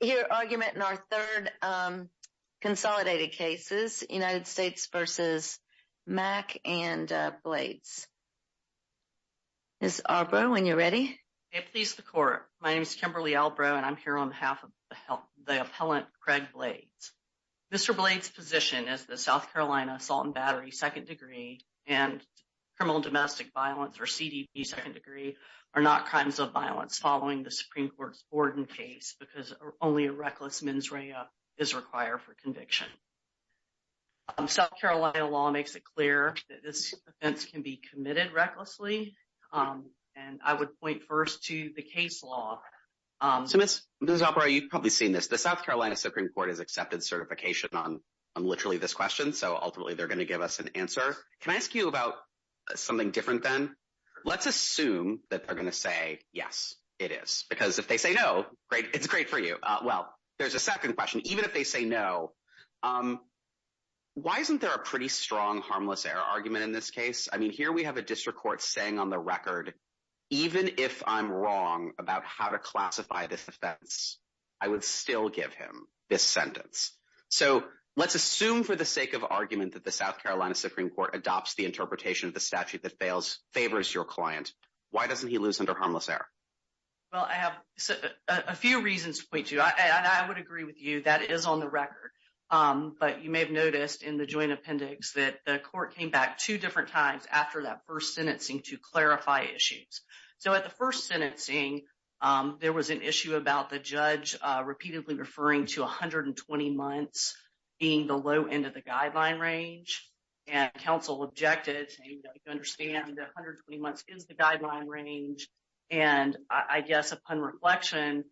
Here, argument in our third consolidated cases, United States v. Mack and Blades. Ms. Albro, when you're ready. Please the court. My name is Kimberly Albro, and I'm here on behalf of the appellant Craig Blades. Mr. Blades' position is that South Carolina assault and battery, second degree, and criminal and domestic violence, or CDB, second degree, are not crimes of violence following the Supreme Court's Borden case because only a reckless mens rea is required for conviction. South Carolina law makes it clear that this offense can be committed recklessly, and I would point first to the case law. So Ms. Albro, you've probably seen this. The South Carolina Supreme Court has accepted certification on literally this question, so ultimately they're going to give us an answer. Can I ask you about something different then? Let's assume that they're going to say, yes, it is. Because if they say no, it's great for you. Well, there's a second question. Even if they say no, why isn't there a pretty strong harmless error argument in this case? I mean, here we have a district court saying on the record, even if I'm wrong about how to classify this offense, I would still give him this sentence. So let's assume for the sake of argument that the South Carolina Supreme Court adopts the interpretation of the statute that favors your client. Why doesn't he lose under harmless error? Well, I have a few reasons to point to, and I would agree with you. That is on the record, but you may have noticed in the joint appendix that the court came back two different times after that first sentencing to clarify issues. So at the first sentencing, there was an issue about the judge repeatedly referring to 120 months being the low end of the guideline range. And counsel objected, saying you don't understand that 120 months is the guideline range. And I guess upon reflection,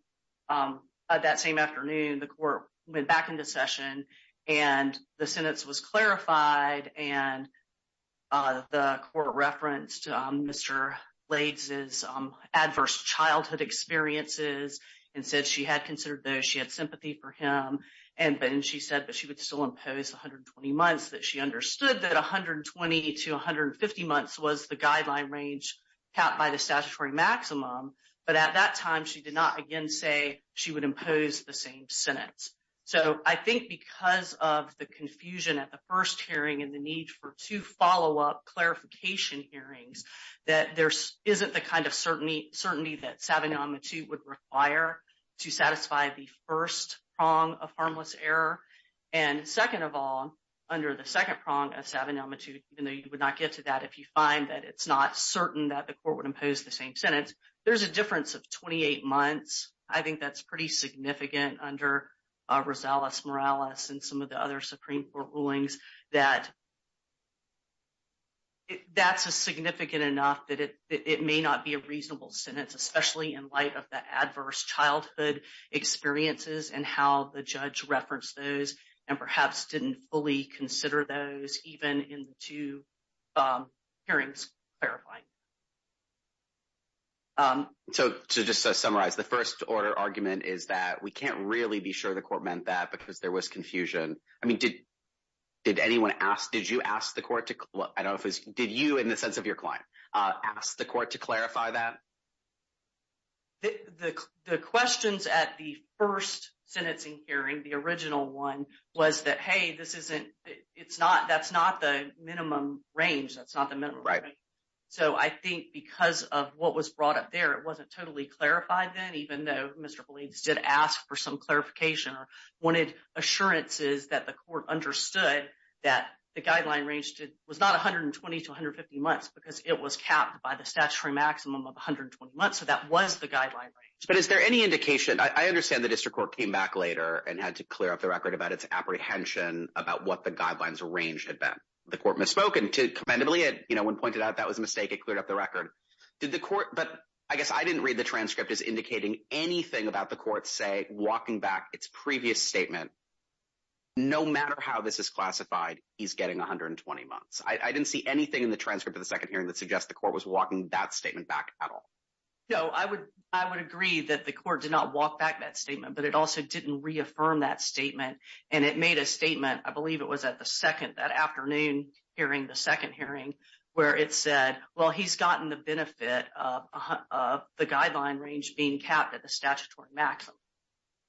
that same afternoon, the court went back into session, and the sentence was clarified, and the court referenced Mr. Lades' adverse childhood experiences and said she had considered those, she had sympathy for him. And then she said that she would still impose 120 months, that she understood that 120 to 150 months was the guideline range capped by the statutory maximum. But at that time, she did not again say she would impose the same sentence. So I think because of the confusion at the first hearing and the need for two follow-up clarification hearings, that there isn't the kind of certainty that savinamitute would require to satisfy the first prong of harmless error. And second of all, under the second prong of savinamitute, even though you would not get to that if you find that it's not certain that the court would impose the same sentence, there's a difference of 28 months. I think that's pretty significant under Rosales Morales and some of the other Supreme Court rulings that that's a significant enough that it may not be a reasonable sentence, So to just summarize, the first order argument is that we can't really be sure the court meant that because there was confusion. I mean, did anyone ask, did you ask the court to, I don't know if it was, did you, in the sense of your client, ask the court to clarify that? The questions at the first sentencing hearing, the original one, was that, hey, this isn't, it's not, that's not the minimum range. That's not the minimum range. So I think because of what was brought up there, it wasn't totally clarified then, even though Mr. Beledes did ask for some clarification or wanted assurances that the court understood that the guideline range was not 120 to 150 months because it was capped by the statutory maximum of 120 months. So that was the guideline range. But is there any indication, I understand the district court came back later and had to clear up the record about its apprehension about what the guidelines range had been. The court misspoke and commendably, when pointed out that was a mistake, it cleared up the record. Did the court, but I guess I didn't read the transcript as indicating anything about the court say walking back its previous statement. No matter how this is classified, he's getting 120 months. I didn't see anything in the transcript of the second hearing that suggests the court was walking that statement back at all. No, I would agree that the court did not walk back that statement, but it also didn't reaffirm that statement. And it made a statement, I believe it was at the second, that afternoon hearing, the second hearing, where it said, well, he's gotten the benefit of the guideline range being capped at the statutory maximum.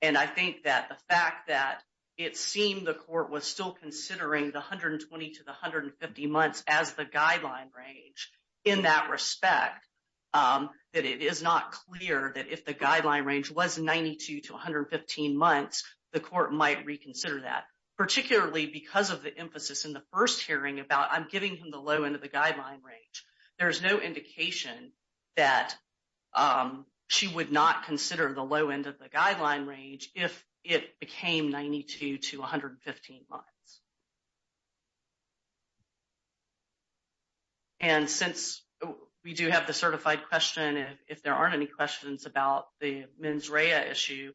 And I think that the fact that it seemed the court was still considering the 120 to the 150 months as the guideline range in that respect. That it is not clear that if the guideline range was 92 to 115 months, the court might reconsider that. Particularly because of the emphasis in the first hearing about I'm giving him the low end of the guideline range. There's no indication that she would not consider the low end of the guideline range if it became 92 to 115 months. And since we do have the certified question, if there aren't any questions about the mens rea issue,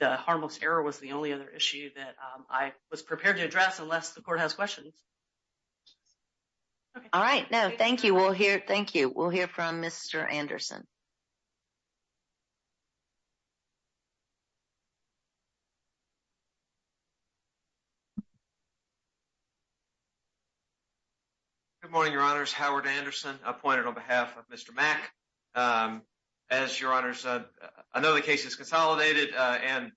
the harmless error was the only other issue that I was prepared to address unless the court has questions. All right. No, thank you. We'll hear. Thank you. We'll hear from Mr. Anderson. Good morning, your honors. Howard Anderson appointed on behalf of Mr. Mac. As your honor said, I know the case is consolidated and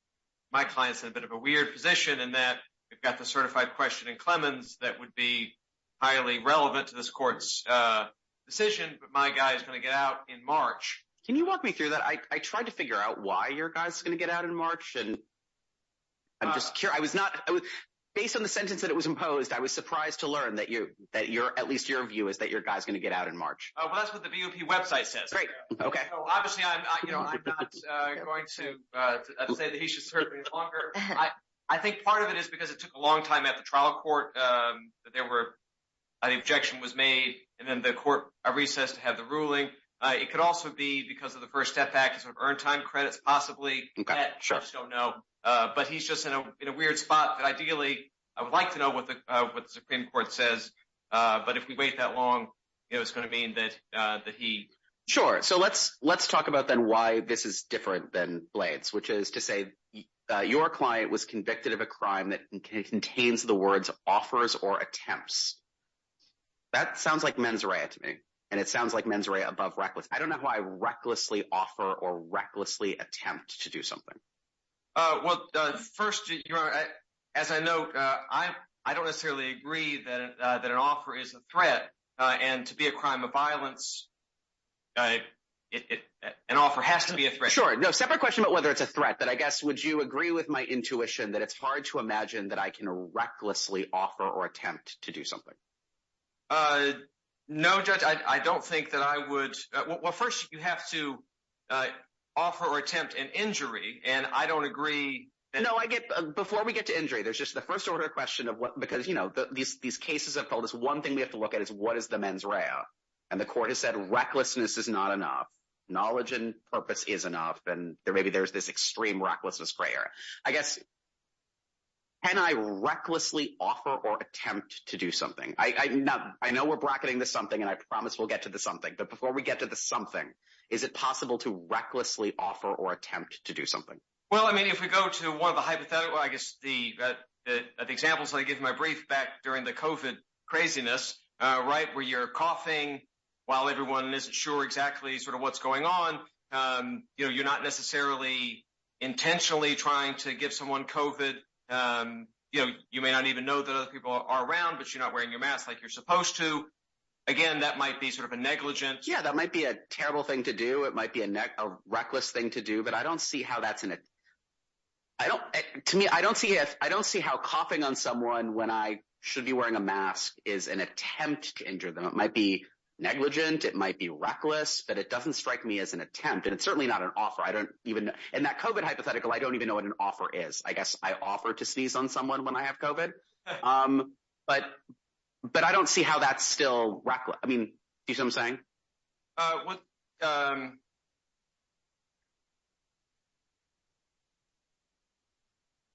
my clients had a bit of a weird position in that. We've got the certified question in Clemens that would be highly relevant to this court's decision. But my guy is going to get out in March. Can you walk me through that? I tried to figure out why your guy's going to get out in March. And I'm just curious. I was not based on the sentence that it was imposed. I was surprised to learn that you that you're at least your view is that your guy's going to get out in March. Well, that's what the website says. Right. OK. Obviously, I'm not going to say that he should serve longer. I think part of it is because it took a long time at the trial court that there were an objection was made. And then the court recessed to have the ruling. It could also be because of the first step back to earn time credits, possibly. I just don't know. But he's just in a weird spot. Ideally, I would like to know what the Supreme Court says. But if we wait that long, it's going to mean that he. Sure. So let's let's talk about then why this is different than Blades, which is to say your client was convicted of a crime that contains the words offers or attempts. That sounds like mens rea to me and it sounds like mens rea above reckless. I don't know why recklessly offer or recklessly attempt to do something. Well, first, as I know, I don't necessarily agree that that an offer is a threat and to be a crime of violence. An offer has to be a threat. Sure. No separate question about whether it's a threat. But I guess would you agree with my intuition that it's hard to imagine that I can recklessly offer or attempt to do something? No, judge, I don't think that I would. Well, first, you have to offer or attempt an injury. And I don't agree. No, I get before we get to injury. There's just the first order of question of what because, you know, these these cases have told us one thing we have to look at is what is the mens rea? And the court has said recklessness is not enough. Knowledge and purpose is enough. And there maybe there's this extreme recklessness. Greyer, I guess. Can I recklessly offer or attempt to do something? I know I know we're bracketing the something and I promise we'll get to the something. But before we get to the something, is it possible to recklessly offer or attempt to do something? Well, I mean, if we go to one of the hypothetical, I guess the examples I give my brief back during the covid craziness. Right. Where you're coughing while everyone isn't sure exactly sort of what's going on. You know, you're not necessarily intentionally trying to give someone covid. You know, you may not even know that other people are around, but you're not wearing your mask like you're supposed to. Again, that might be sort of a negligence. Yeah, that might be a terrible thing to do. It might be a reckless thing to do. But I don't see how that's in it. I don't to me, I don't see if I don't see how coughing on someone when I should be wearing a mask is an attempt to injure them. It might be negligent. It might be reckless, but it doesn't strike me as an attempt. And it's certainly not an offer. I don't even know. And that covid hypothetical, I don't even know what an offer is. I guess I offer to sneeze on someone when I have covid. But but I don't see how that's still reckless. I mean, I'm saying.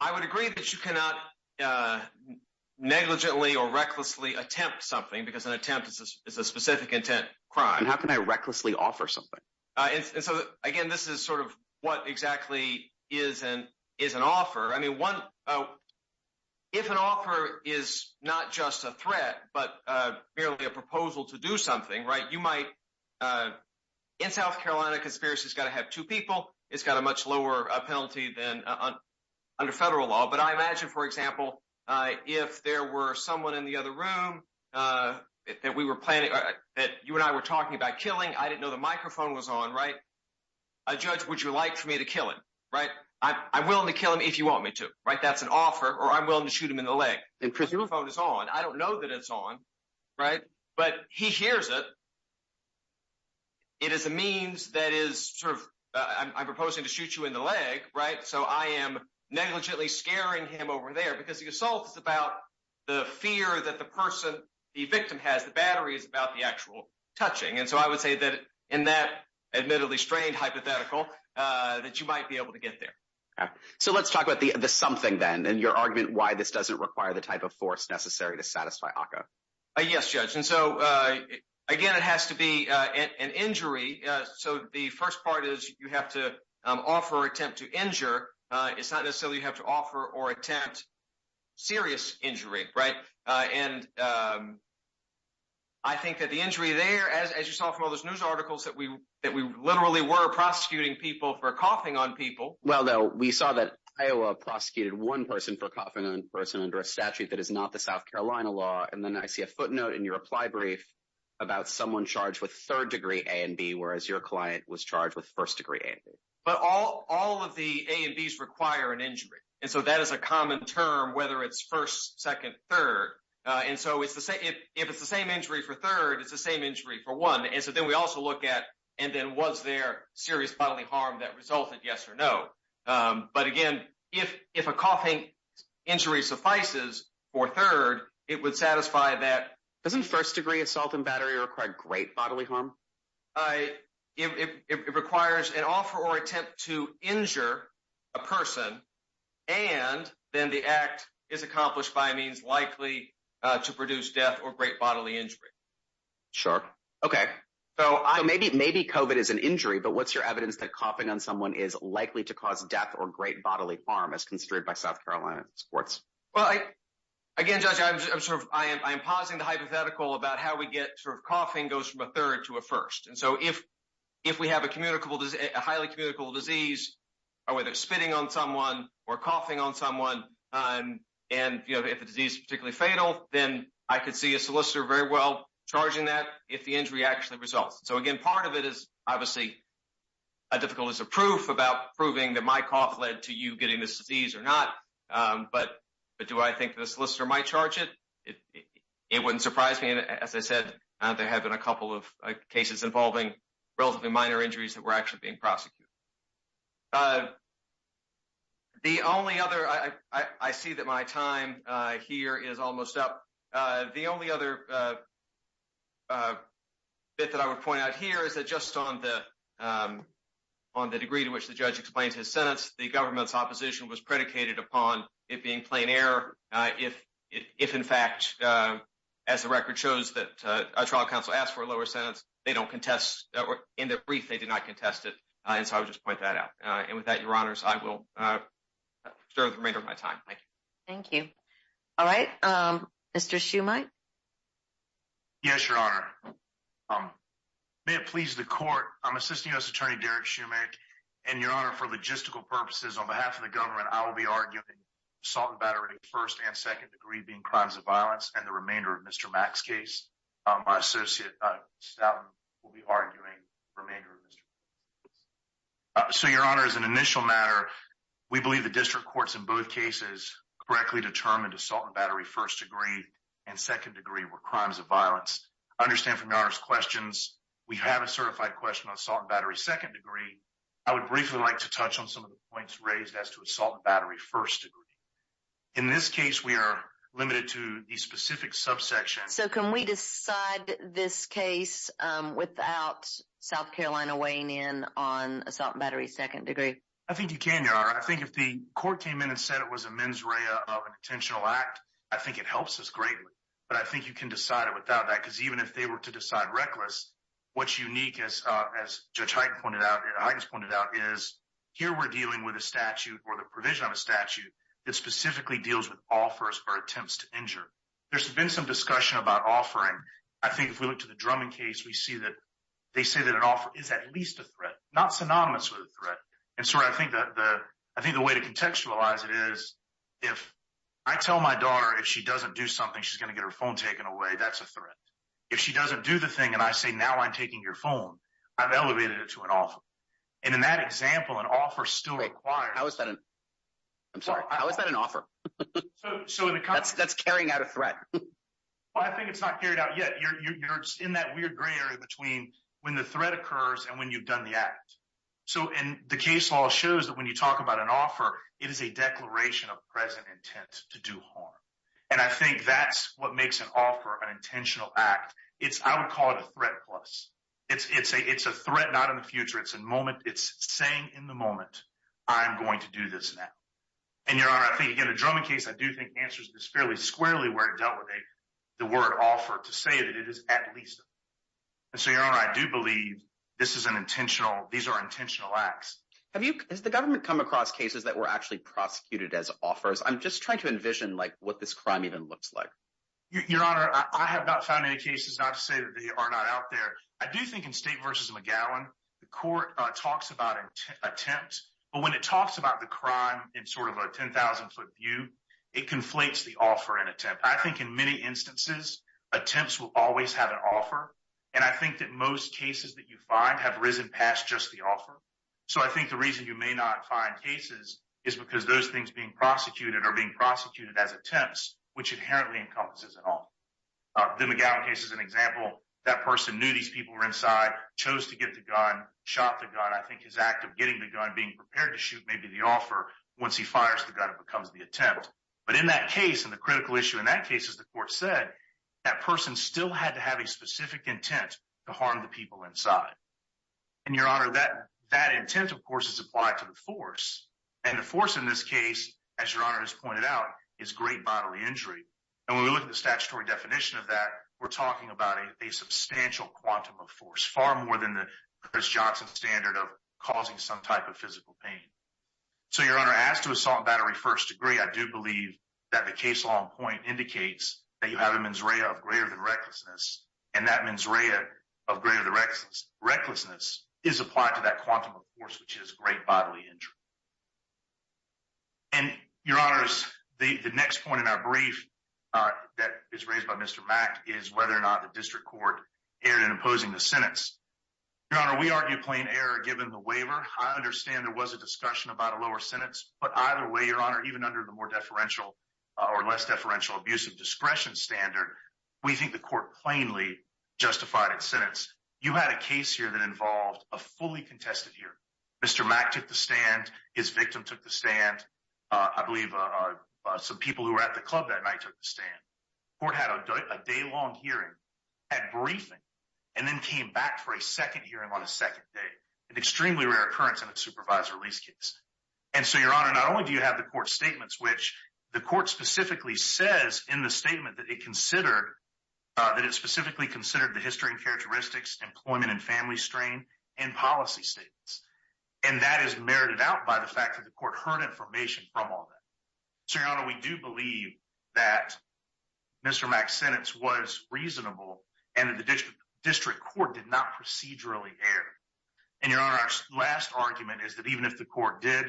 I would agree that you cannot negligently or recklessly attempt something because an attempt is a specific intent crime. How can I recklessly offer something? And so, again, this is sort of what exactly is and is an offer. I mean, one. If an offer is not just a threat, but merely a proposal to do something right, you might. In South Carolina, conspiracy has got to have two people. It's got a much lower penalty than under federal law. But I imagine, for example, if there were someone in the other room that we were planning that you and I were talking about killing, I didn't know the microphone was on. Right. A judge, would you like for me to kill him? Right. I'm willing to kill him if you want me to. Right. That's an offer or I'm willing to shoot him in the leg. The phone is on. I don't know that it's on. Right. But he hears it. It is a means that is sort of I'm proposing to shoot you in the leg. Right. So I am negligently scaring him over there because the assault is about the fear that the person, the victim has, the battery is about the actual touching. And so I would say that in that admittedly strained hypothetical that you might be able to get there. So let's talk about the something then and your argument why this doesn't require the type of force necessary to satisfy. Yes. And so, again, it has to be an injury. So the first part is you have to offer attempt to injure. It's not necessarily you have to offer or attempt serious injury. Right. And I think that the injury there, as you saw from all those news articles, that we that we literally were prosecuting people for coughing on people. Well, though, we saw that Iowa prosecuted one person for coughing on a person under a statute that is not the South Carolina law. And then I see a footnote in your reply brief about someone charged with third degree A and B, whereas your client was charged with first degree. But all all of the A and B's require an injury. And so that is a common term, whether it's first, second, third. And so it's the same if it's the same injury for third, it's the same injury for one. And so then we also look at and then was there serious bodily harm that resulted? Yes or no. But again, if if a coughing injury suffices for third, it would satisfy that. Doesn't first degree assault and battery are quite great bodily harm. I it requires an offer or attempt to injure a person. And then the act is accomplished by means likely to produce death or great bodily injury. Sure. OK, so maybe maybe COVID is an injury. But what's your evidence that coughing on someone is likely to cause death or great bodily harm as construed by South Carolina courts? Well, again, judge, I'm sure I am. I am pausing the hypothetical about how we get sort of coughing goes from a third to a first. And so if if we have a communicable, highly communicable disease or whether it's spitting on someone or coughing on someone, and if the disease is particularly fatal, then I could see a solicitor very well charging that if the injury actually results. So, again, part of it is obviously a difficult as a proof about proving that my cough led to you getting this disease or not. But but do I think the solicitor might charge it? It wouldn't surprise me. And as I said, there have been a couple of cases involving relatively minor injuries that were actually being prosecuted. The only other I see that my time here is almost up. The only other bit that I would point out here is that just on the on the degree to which the judge explains his sentence, the government's opposition was predicated upon it being plain air. If if in fact, as the record shows, that a trial counsel asked for a lower sentence, they don't contest. In the brief, they did not contest it. And so I would just point that out. And with that, your honors, I will serve the remainder of my time. Thank you. Thank you. All right. Mr. Shumite. Yes, your honor. May it please the court. I'm assisting U.S. Attorney Derek Shumite and your honor for logistical purposes. On behalf of the government, I will be arguing assault and battery first and second degree being crimes of violence. And the remainder of Mr. Mack's case, my associate will be arguing remainder. So, your honor, as an initial matter, we believe the district courts in both cases correctly determined assault and battery first degree and second degree were crimes of violence. I understand from your questions, we have a certified question on assault and battery second degree. I would briefly like to touch on some of the points raised as to assault and battery first degree. In this case, we are limited to a specific subsection. So can we decide this case without South Carolina weighing in on assault and battery second degree? I think you can, your honor. I think if the court came in and said it was a mens rea of an intentional act, I think it helps us greatly. But I think you can decide it without that. Because even if they were to decide reckless, what's unique, as Judge Hyten pointed out, is here we're dealing with a statute or the provision of a statute that specifically deals with offers or attempts to injure. There's been some discussion about offering. I think if we look to the Drummond case, we see that they say that an offer is at least a threat, not synonymous with a threat. And so I think the way to contextualize it is if I tell my daughter if she doesn't do something, she's going to get her phone taken away. That's a threat. If she doesn't do the thing and I say, now I'm taking your phone, I've elevated it to an offer. And in that example, an offer still requires. How is that an offer? That's carrying out a threat. I think it's not carried out yet. You're in that weird gray area between when the threat occurs and when you've done the act. And the case law shows that when you talk about an offer, it is a declaration of present intent to do harm. And I think that's what makes an offer an intentional act. I would call it a threat plus. It's a threat not in the future. It's a moment. It's saying in the moment, I'm going to do this now. And, Your Honor, I think, again, the Drummond case, I do think answers this fairly squarely where it dealt with the word offer to say that it is at least a threat. And so, Your Honor, I do believe this is an intentional, these are intentional acts. Has the government come across cases that were actually prosecuted as offers? I'm just trying to envision what this crime even looks like. Your Honor, I have not found any cases, not to say that they are not out there. I do think in State v. McGowan, the court talks about an attempt. But when it talks about the crime in sort of a 10,000-foot view, it conflates the offer and attempt. I think in many instances, attempts will always have an offer. And I think that most cases that you find have risen past just the offer. So I think the reason you may not find cases is because those things being prosecuted are being prosecuted as attempts, which inherently encompasses an offer. The McGowan case is an example. That person knew these people were inside, chose to get the gun, shot the gun. I think his act of getting the gun, being prepared to shoot maybe the offer, once he fires the gun, it becomes the attempt. But in that case, and the critical issue in that case, as the court said, that person still had to have a specific intent to harm the people inside. And, Your Honor, that intent, of course, is applied to the force. And the force in this case, as Your Honor has pointed out, is great bodily injury. And when we look at the statutory definition of that, we're talking about a substantial quantum of force, far more than the Chris Johnson standard of causing some type of physical pain. So, Your Honor, as to assault and battery first degree, I do believe that the case law in point indicates that you have a mens rea of greater than recklessness. And that mens rea of greater than recklessness is applied to that quantum of force, which is great bodily injury. And, Your Honor, the next point in our brief that is raised by Mr. Mack is whether or not the district court erred in opposing the sentence. Your Honor, we argue plain error given the waiver. I understand there was a discussion about a lower sentence. But either way, Your Honor, even under the more deferential or less deferential abuse of discretion standard, we think the court plainly justified its sentence. You had a case here that involved a fully contested hearing. Mr. Mack took the stand. His victim took the stand. I believe some people who were at the club that night took the stand. The court had a day-long hearing, had briefing, and then came back for a second hearing on a second day. An extremely rare occurrence in a supervised release case. And so, Your Honor, not only do you have the court's statements, which the court specifically says in the statement that it considered the history and characteristics, employment and family strain, and policy statements. And that is merited out by the fact that the court heard information from all that. So, Your Honor, we do believe that Mr. Mack's sentence was reasonable and that the district court did not procedurally err. And, Your Honor, our last argument is that even if the court did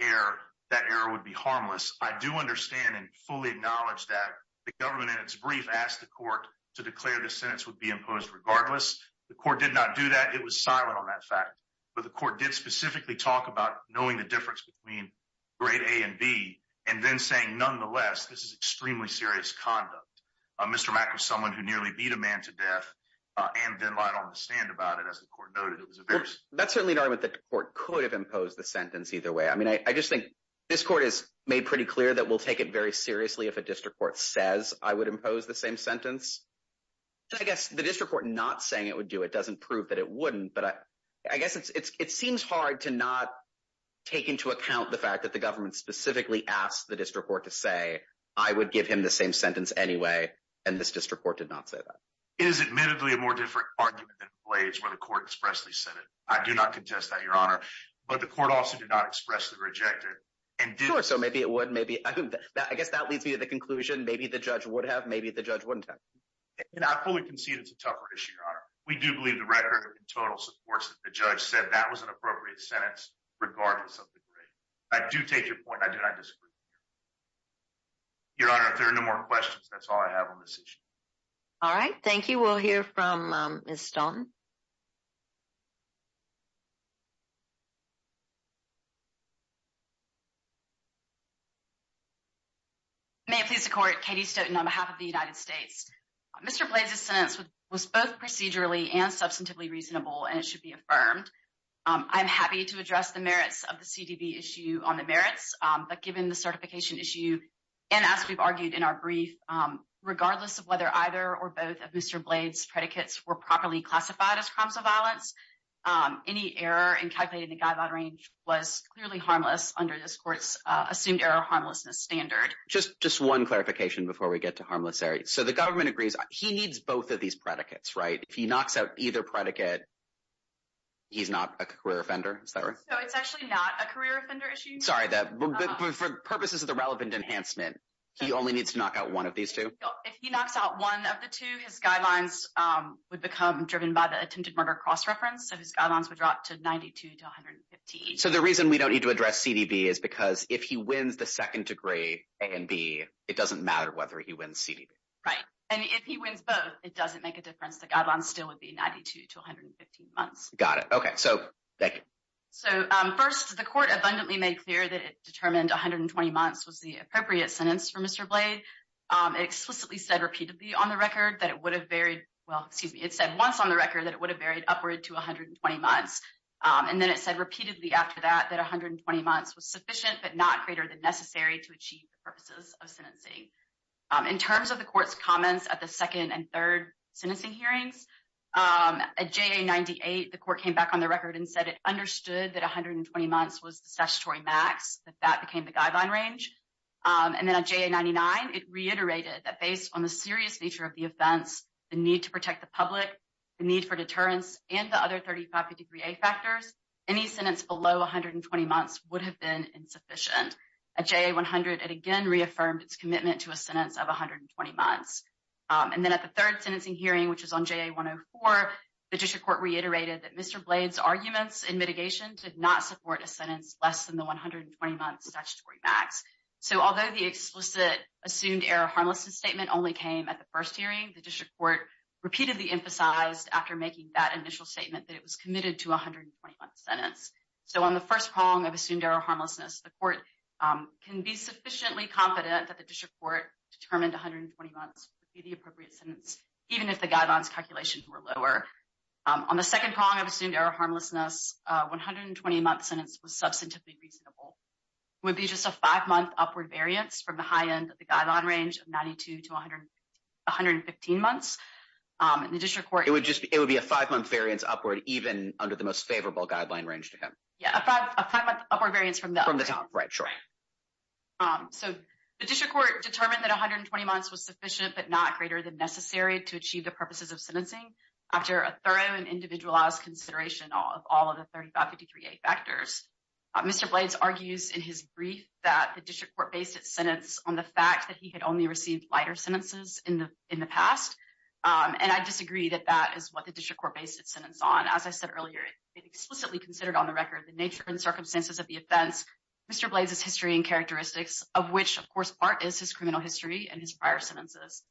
err, that error would be harmless. I do understand and fully acknowledge that the government, in its brief, asked the court to declare the sentence would be imposed regardless. The court did not do that. It was silent on that fact. But the court did specifically talk about knowing the difference between grade A and B and then saying, nonetheless, this is extremely serious conduct. Mr. Mack was someone who nearly beat a man to death and didn't lie on the stand about it, as the court noted. That's certainly an argument that the court could have imposed the sentence either way. I mean, I just think this court has made pretty clear that we'll take it very seriously if a district court says I would impose the same sentence. I guess the district court not saying it would do it doesn't prove that it wouldn't. But I guess it seems hard to not take into account the fact that the government specifically asked the district court to say I would give him the same sentence anyway. And this district court did not say that. It is admittedly a more different argument than the Blades where the court expressly said it. I do not contest that, Your Honor. But the court also did not expressly reject it. Sure. So maybe it would. Maybe. I guess that leads me to the conclusion. Maybe the judge would have. Maybe the judge wouldn't have. And I fully concede it's a tougher issue, Your Honor. We do believe the record in total supports that the judge said that was an appropriate sentence regardless of the grade. I do take your point. I do not disagree. Your Honor, if there are no more questions, that's all I have on this issue. All right. Thank you. We'll hear from Ms. Stone. May it please the Court. Katie Stoughton on behalf of the United States. Mr. Blades' sentence was both procedurally and substantively reasonable, and it should be affirmed. I'm happy to address the merits of the CDB issue on the merits. But given the certification issue, and as we've argued in our brief, regardless of whether either or both of Mr. Blades' predicates were properly classified as crimes of violence, any error in calculating the guideline range was clearly harmless under this court's assumed error harmlessness standard. Just one clarification before we get to harmless error. So the government agrees he needs both of these predicates, right? If he knocks out either predicate, he's not a career offender, is that right? No, it's actually not a career offender issue. Sorry, but for purposes of the relevant enhancement, he only needs to knock out one of these two? If he knocks out one of the two, his guidelines would become driven by the attempted murder cross-reference, so his guidelines would drop to 92 to 115. So the reason we don't need to address CDB is because if he wins the second degree A and B, it doesn't matter whether he wins CDB. Right. And if he wins both, it doesn't make a difference. The guidelines still would be 92 to 115 months. Got it. Okay. So thank you. So first, the court abundantly made clear that it determined 120 months was the appropriate sentence for Mr. Blade. It explicitly said repeatedly on the record that it would have varied – well, excuse me, it said once on the record that it would have varied upward to 120 months. And then it said repeatedly after that that 120 months was sufficient but not greater than necessary to achieve the purposes of sentencing. In terms of the court's comments at the second and third sentencing hearings, at JA-98, the court came back on the record and said it understood that 120 months was the statutory max, that that became the guideline range. And then at JA-99, it reiterated that based on the serious nature of the offense, the need to protect the public, the need for deterrence, and the other 35 degree A factors, any sentence below 120 months would have been insufficient. At JA-100, it again reaffirmed its commitment to a sentence of 120 months. And then at the third sentencing hearing, which was on JA-104, the district court reiterated that Mr. Blade's arguments in mitigation did not support a sentence less than the 120-month statutory max. So although the explicit assumed error harmlessness statement only came at the first hearing, the district court repeatedly emphasized after making that initial statement that it was committed to a 120-month sentence. So on the first prong of assumed error harmlessness, the court can be sufficiently confident that the district court determined 120 months would be the appropriate sentence, even if the guidelines calculations were lower. On the second prong of assumed error harmlessness, a 120-month sentence was substantively reasonable. It would be just a five-month upward variance from the high end of the guideline range of 92 to 115 months. And the district court- It would be a five-month variance upward even under the most favorable guideline range to him. Yeah, a five-month upward variance from the- From the top, right, sure. So the district court determined that 120 months was sufficient but not greater than necessary to achieve the purposes of sentencing after a thorough and individualized consideration of all of the 35 degree A factors. Mr. Blades argues in his brief that the district court based its sentence on the fact that he had only received lighter sentences in the past. And I disagree that that is what the district court based its sentence on. As I said earlier, it explicitly considered on the record the nature and circumstances of the offense, Mr. Blades' history and characteristics, of which, of course, part is his criminal history and his prior sentences.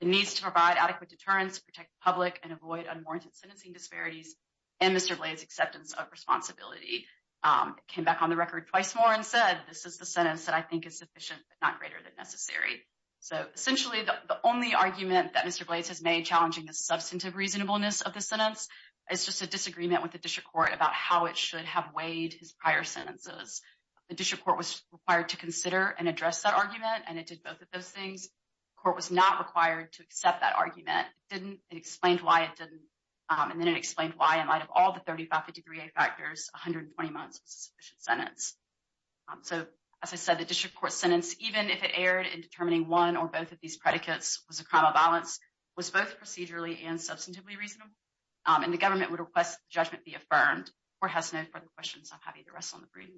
It needs to provide adequate deterrence, protect the public, and avoid unwarranted sentencing disparities and Mr. Blades' acceptance of responsibility. It came back on the record twice more and said, this is the sentence that I think is sufficient but not greater than necessary. So essentially, the only argument that Mr. Blades has made challenging the substantive reasonableness of the sentence is just a disagreement with the district court about how it should have weighed his prior sentences. The district court was required to consider and address that argument, and it did both of those things. The court was not required to accept that argument. It didn't. It explained why it didn't. And then it explained why, out of all the 3553A factors, 120 months was a sufficient sentence. So as I said, the district court's sentence, even if it erred in determining one or both of these predicates was a crime of violence, was both procedurally and substantively reasonable. And the government would request that the judgment be affirmed. The court has no further questions. I'm happy to rest on the brief.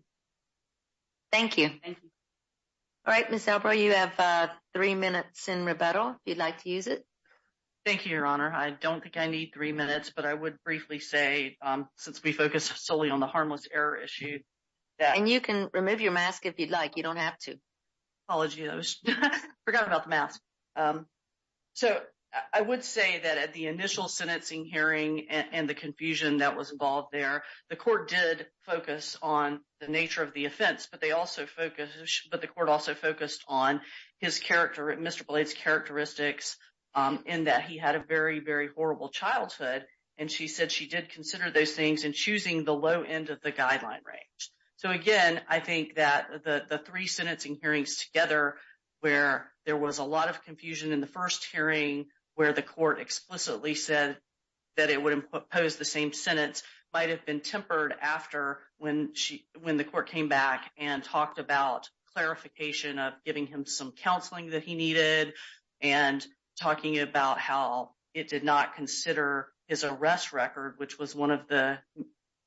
Thank you. All right, Ms. Elbrow, you have three minutes in rebuttal if you'd like to use it. Thank you, Your Honor. I don't think I need three minutes, but I would briefly say, since we focus solely on the harmless error issue. And you can remove your mask if you'd like. You don't have to. Apologies. I forgot about the mask. So I would say that at the initial sentencing hearing and the confusion that was involved there, the court did focus on the nature of the offense. But the court also focused on Mr. Blade's characteristics in that he had a very, very horrible childhood. And she said she did consider those things in choosing the low end of the guideline range. So, again, I think that the three sentencing hearings together, where there was a lot of confusion in the first hearing where the court explicitly said that it would impose the same sentence, might have been tempered after when the court came back and talked about clarification of giving him some counseling that he needed and talking about how it did not consider his arrest record, which was one of the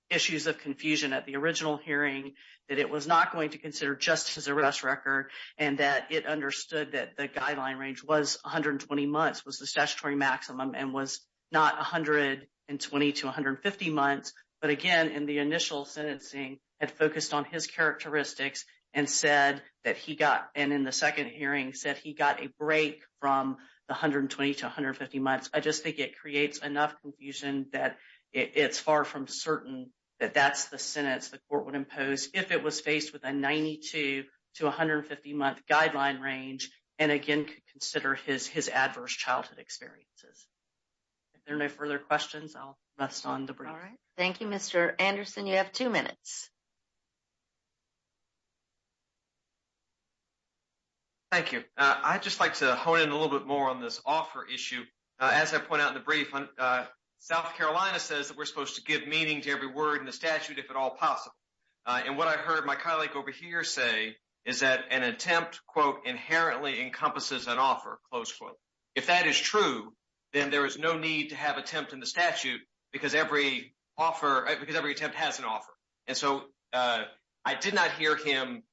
issues of confusion at the original hearing, that it was not going to consider just his arrest record and that it understood that the guideline range was 120 months, was the statutory maximum, and was not 120 to 150 months. But, again, in the initial sentencing, it focused on his characteristics and said that he got, and in the second hearing, said he got a break from the 120 to 150 months. I just think it creates enough confusion that it's far from certain that that's the sentence the court would impose if it was faced with a 92 to 150-month guideline range and, again, could consider his adverse childhood experiences. If there are no further questions, I'll rest on the brief. All right. Thank you, Mr. Anderson. You have two minutes. Thank you. I'd just like to hone in a little bit more on this offer issue. As I point out in the brief, South Carolina says that we're supposed to give meaning to every word in the statute, if at all possible. And what I heard my colleague over here say is that an attempt, quote, inherently encompasses an offer, close quote. If that is true, then there is no need to have attempt in the statute because every attempt has an offer. And so I did not hear him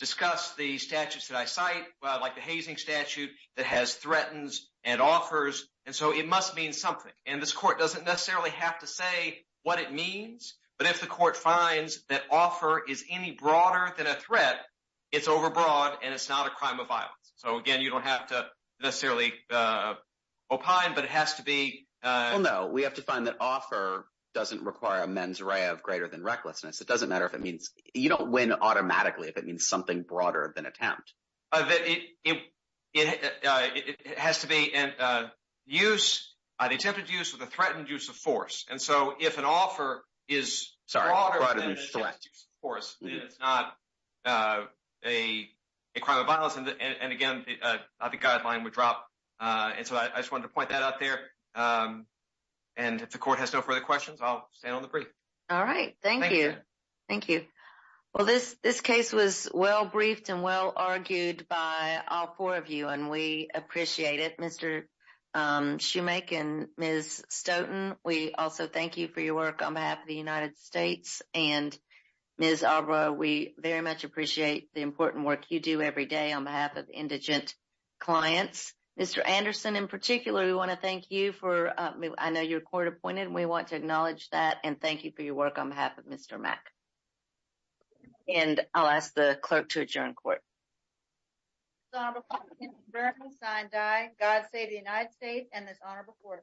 discuss the statutes that I cite, like the hazing statute that has threatens and offers. And so it must mean something. And this court doesn't necessarily have to say what it means. But if the court finds that offer is any broader than a threat, it's overbroad and it's not a crime of violence. So, again, you don't have to necessarily opine, but it has to be. No, we have to find that offer doesn't require a mens rea of greater than recklessness. It doesn't matter if it means you don't win automatically if it means something broader than attempt. It has to be an attempt to use with a threatened use of force. And so if an offer is broader than an attempt to use force, it's not a crime of violence. And again, the guideline would drop. And so I just want to point that out there. And if the court has no further questions, I'll stay on the brief. All right. Thank you. Thank you. Well, this this case was well briefed and well argued by all four of you. And we appreciate it, Mr. Shoemaker and Ms. Stoughton. We also thank you for your work on behalf of the United States and Ms. Arbor. We very much appreciate the important work you do every day on behalf of indigent clients. Mr. Anderson, in particular, we want to thank you for I know your court appointed. We want to acknowledge that and thank you for your work on behalf of Mr. Mack. And I'll ask the clerk to adjourn court. So I die. God save the United States and this honorable court.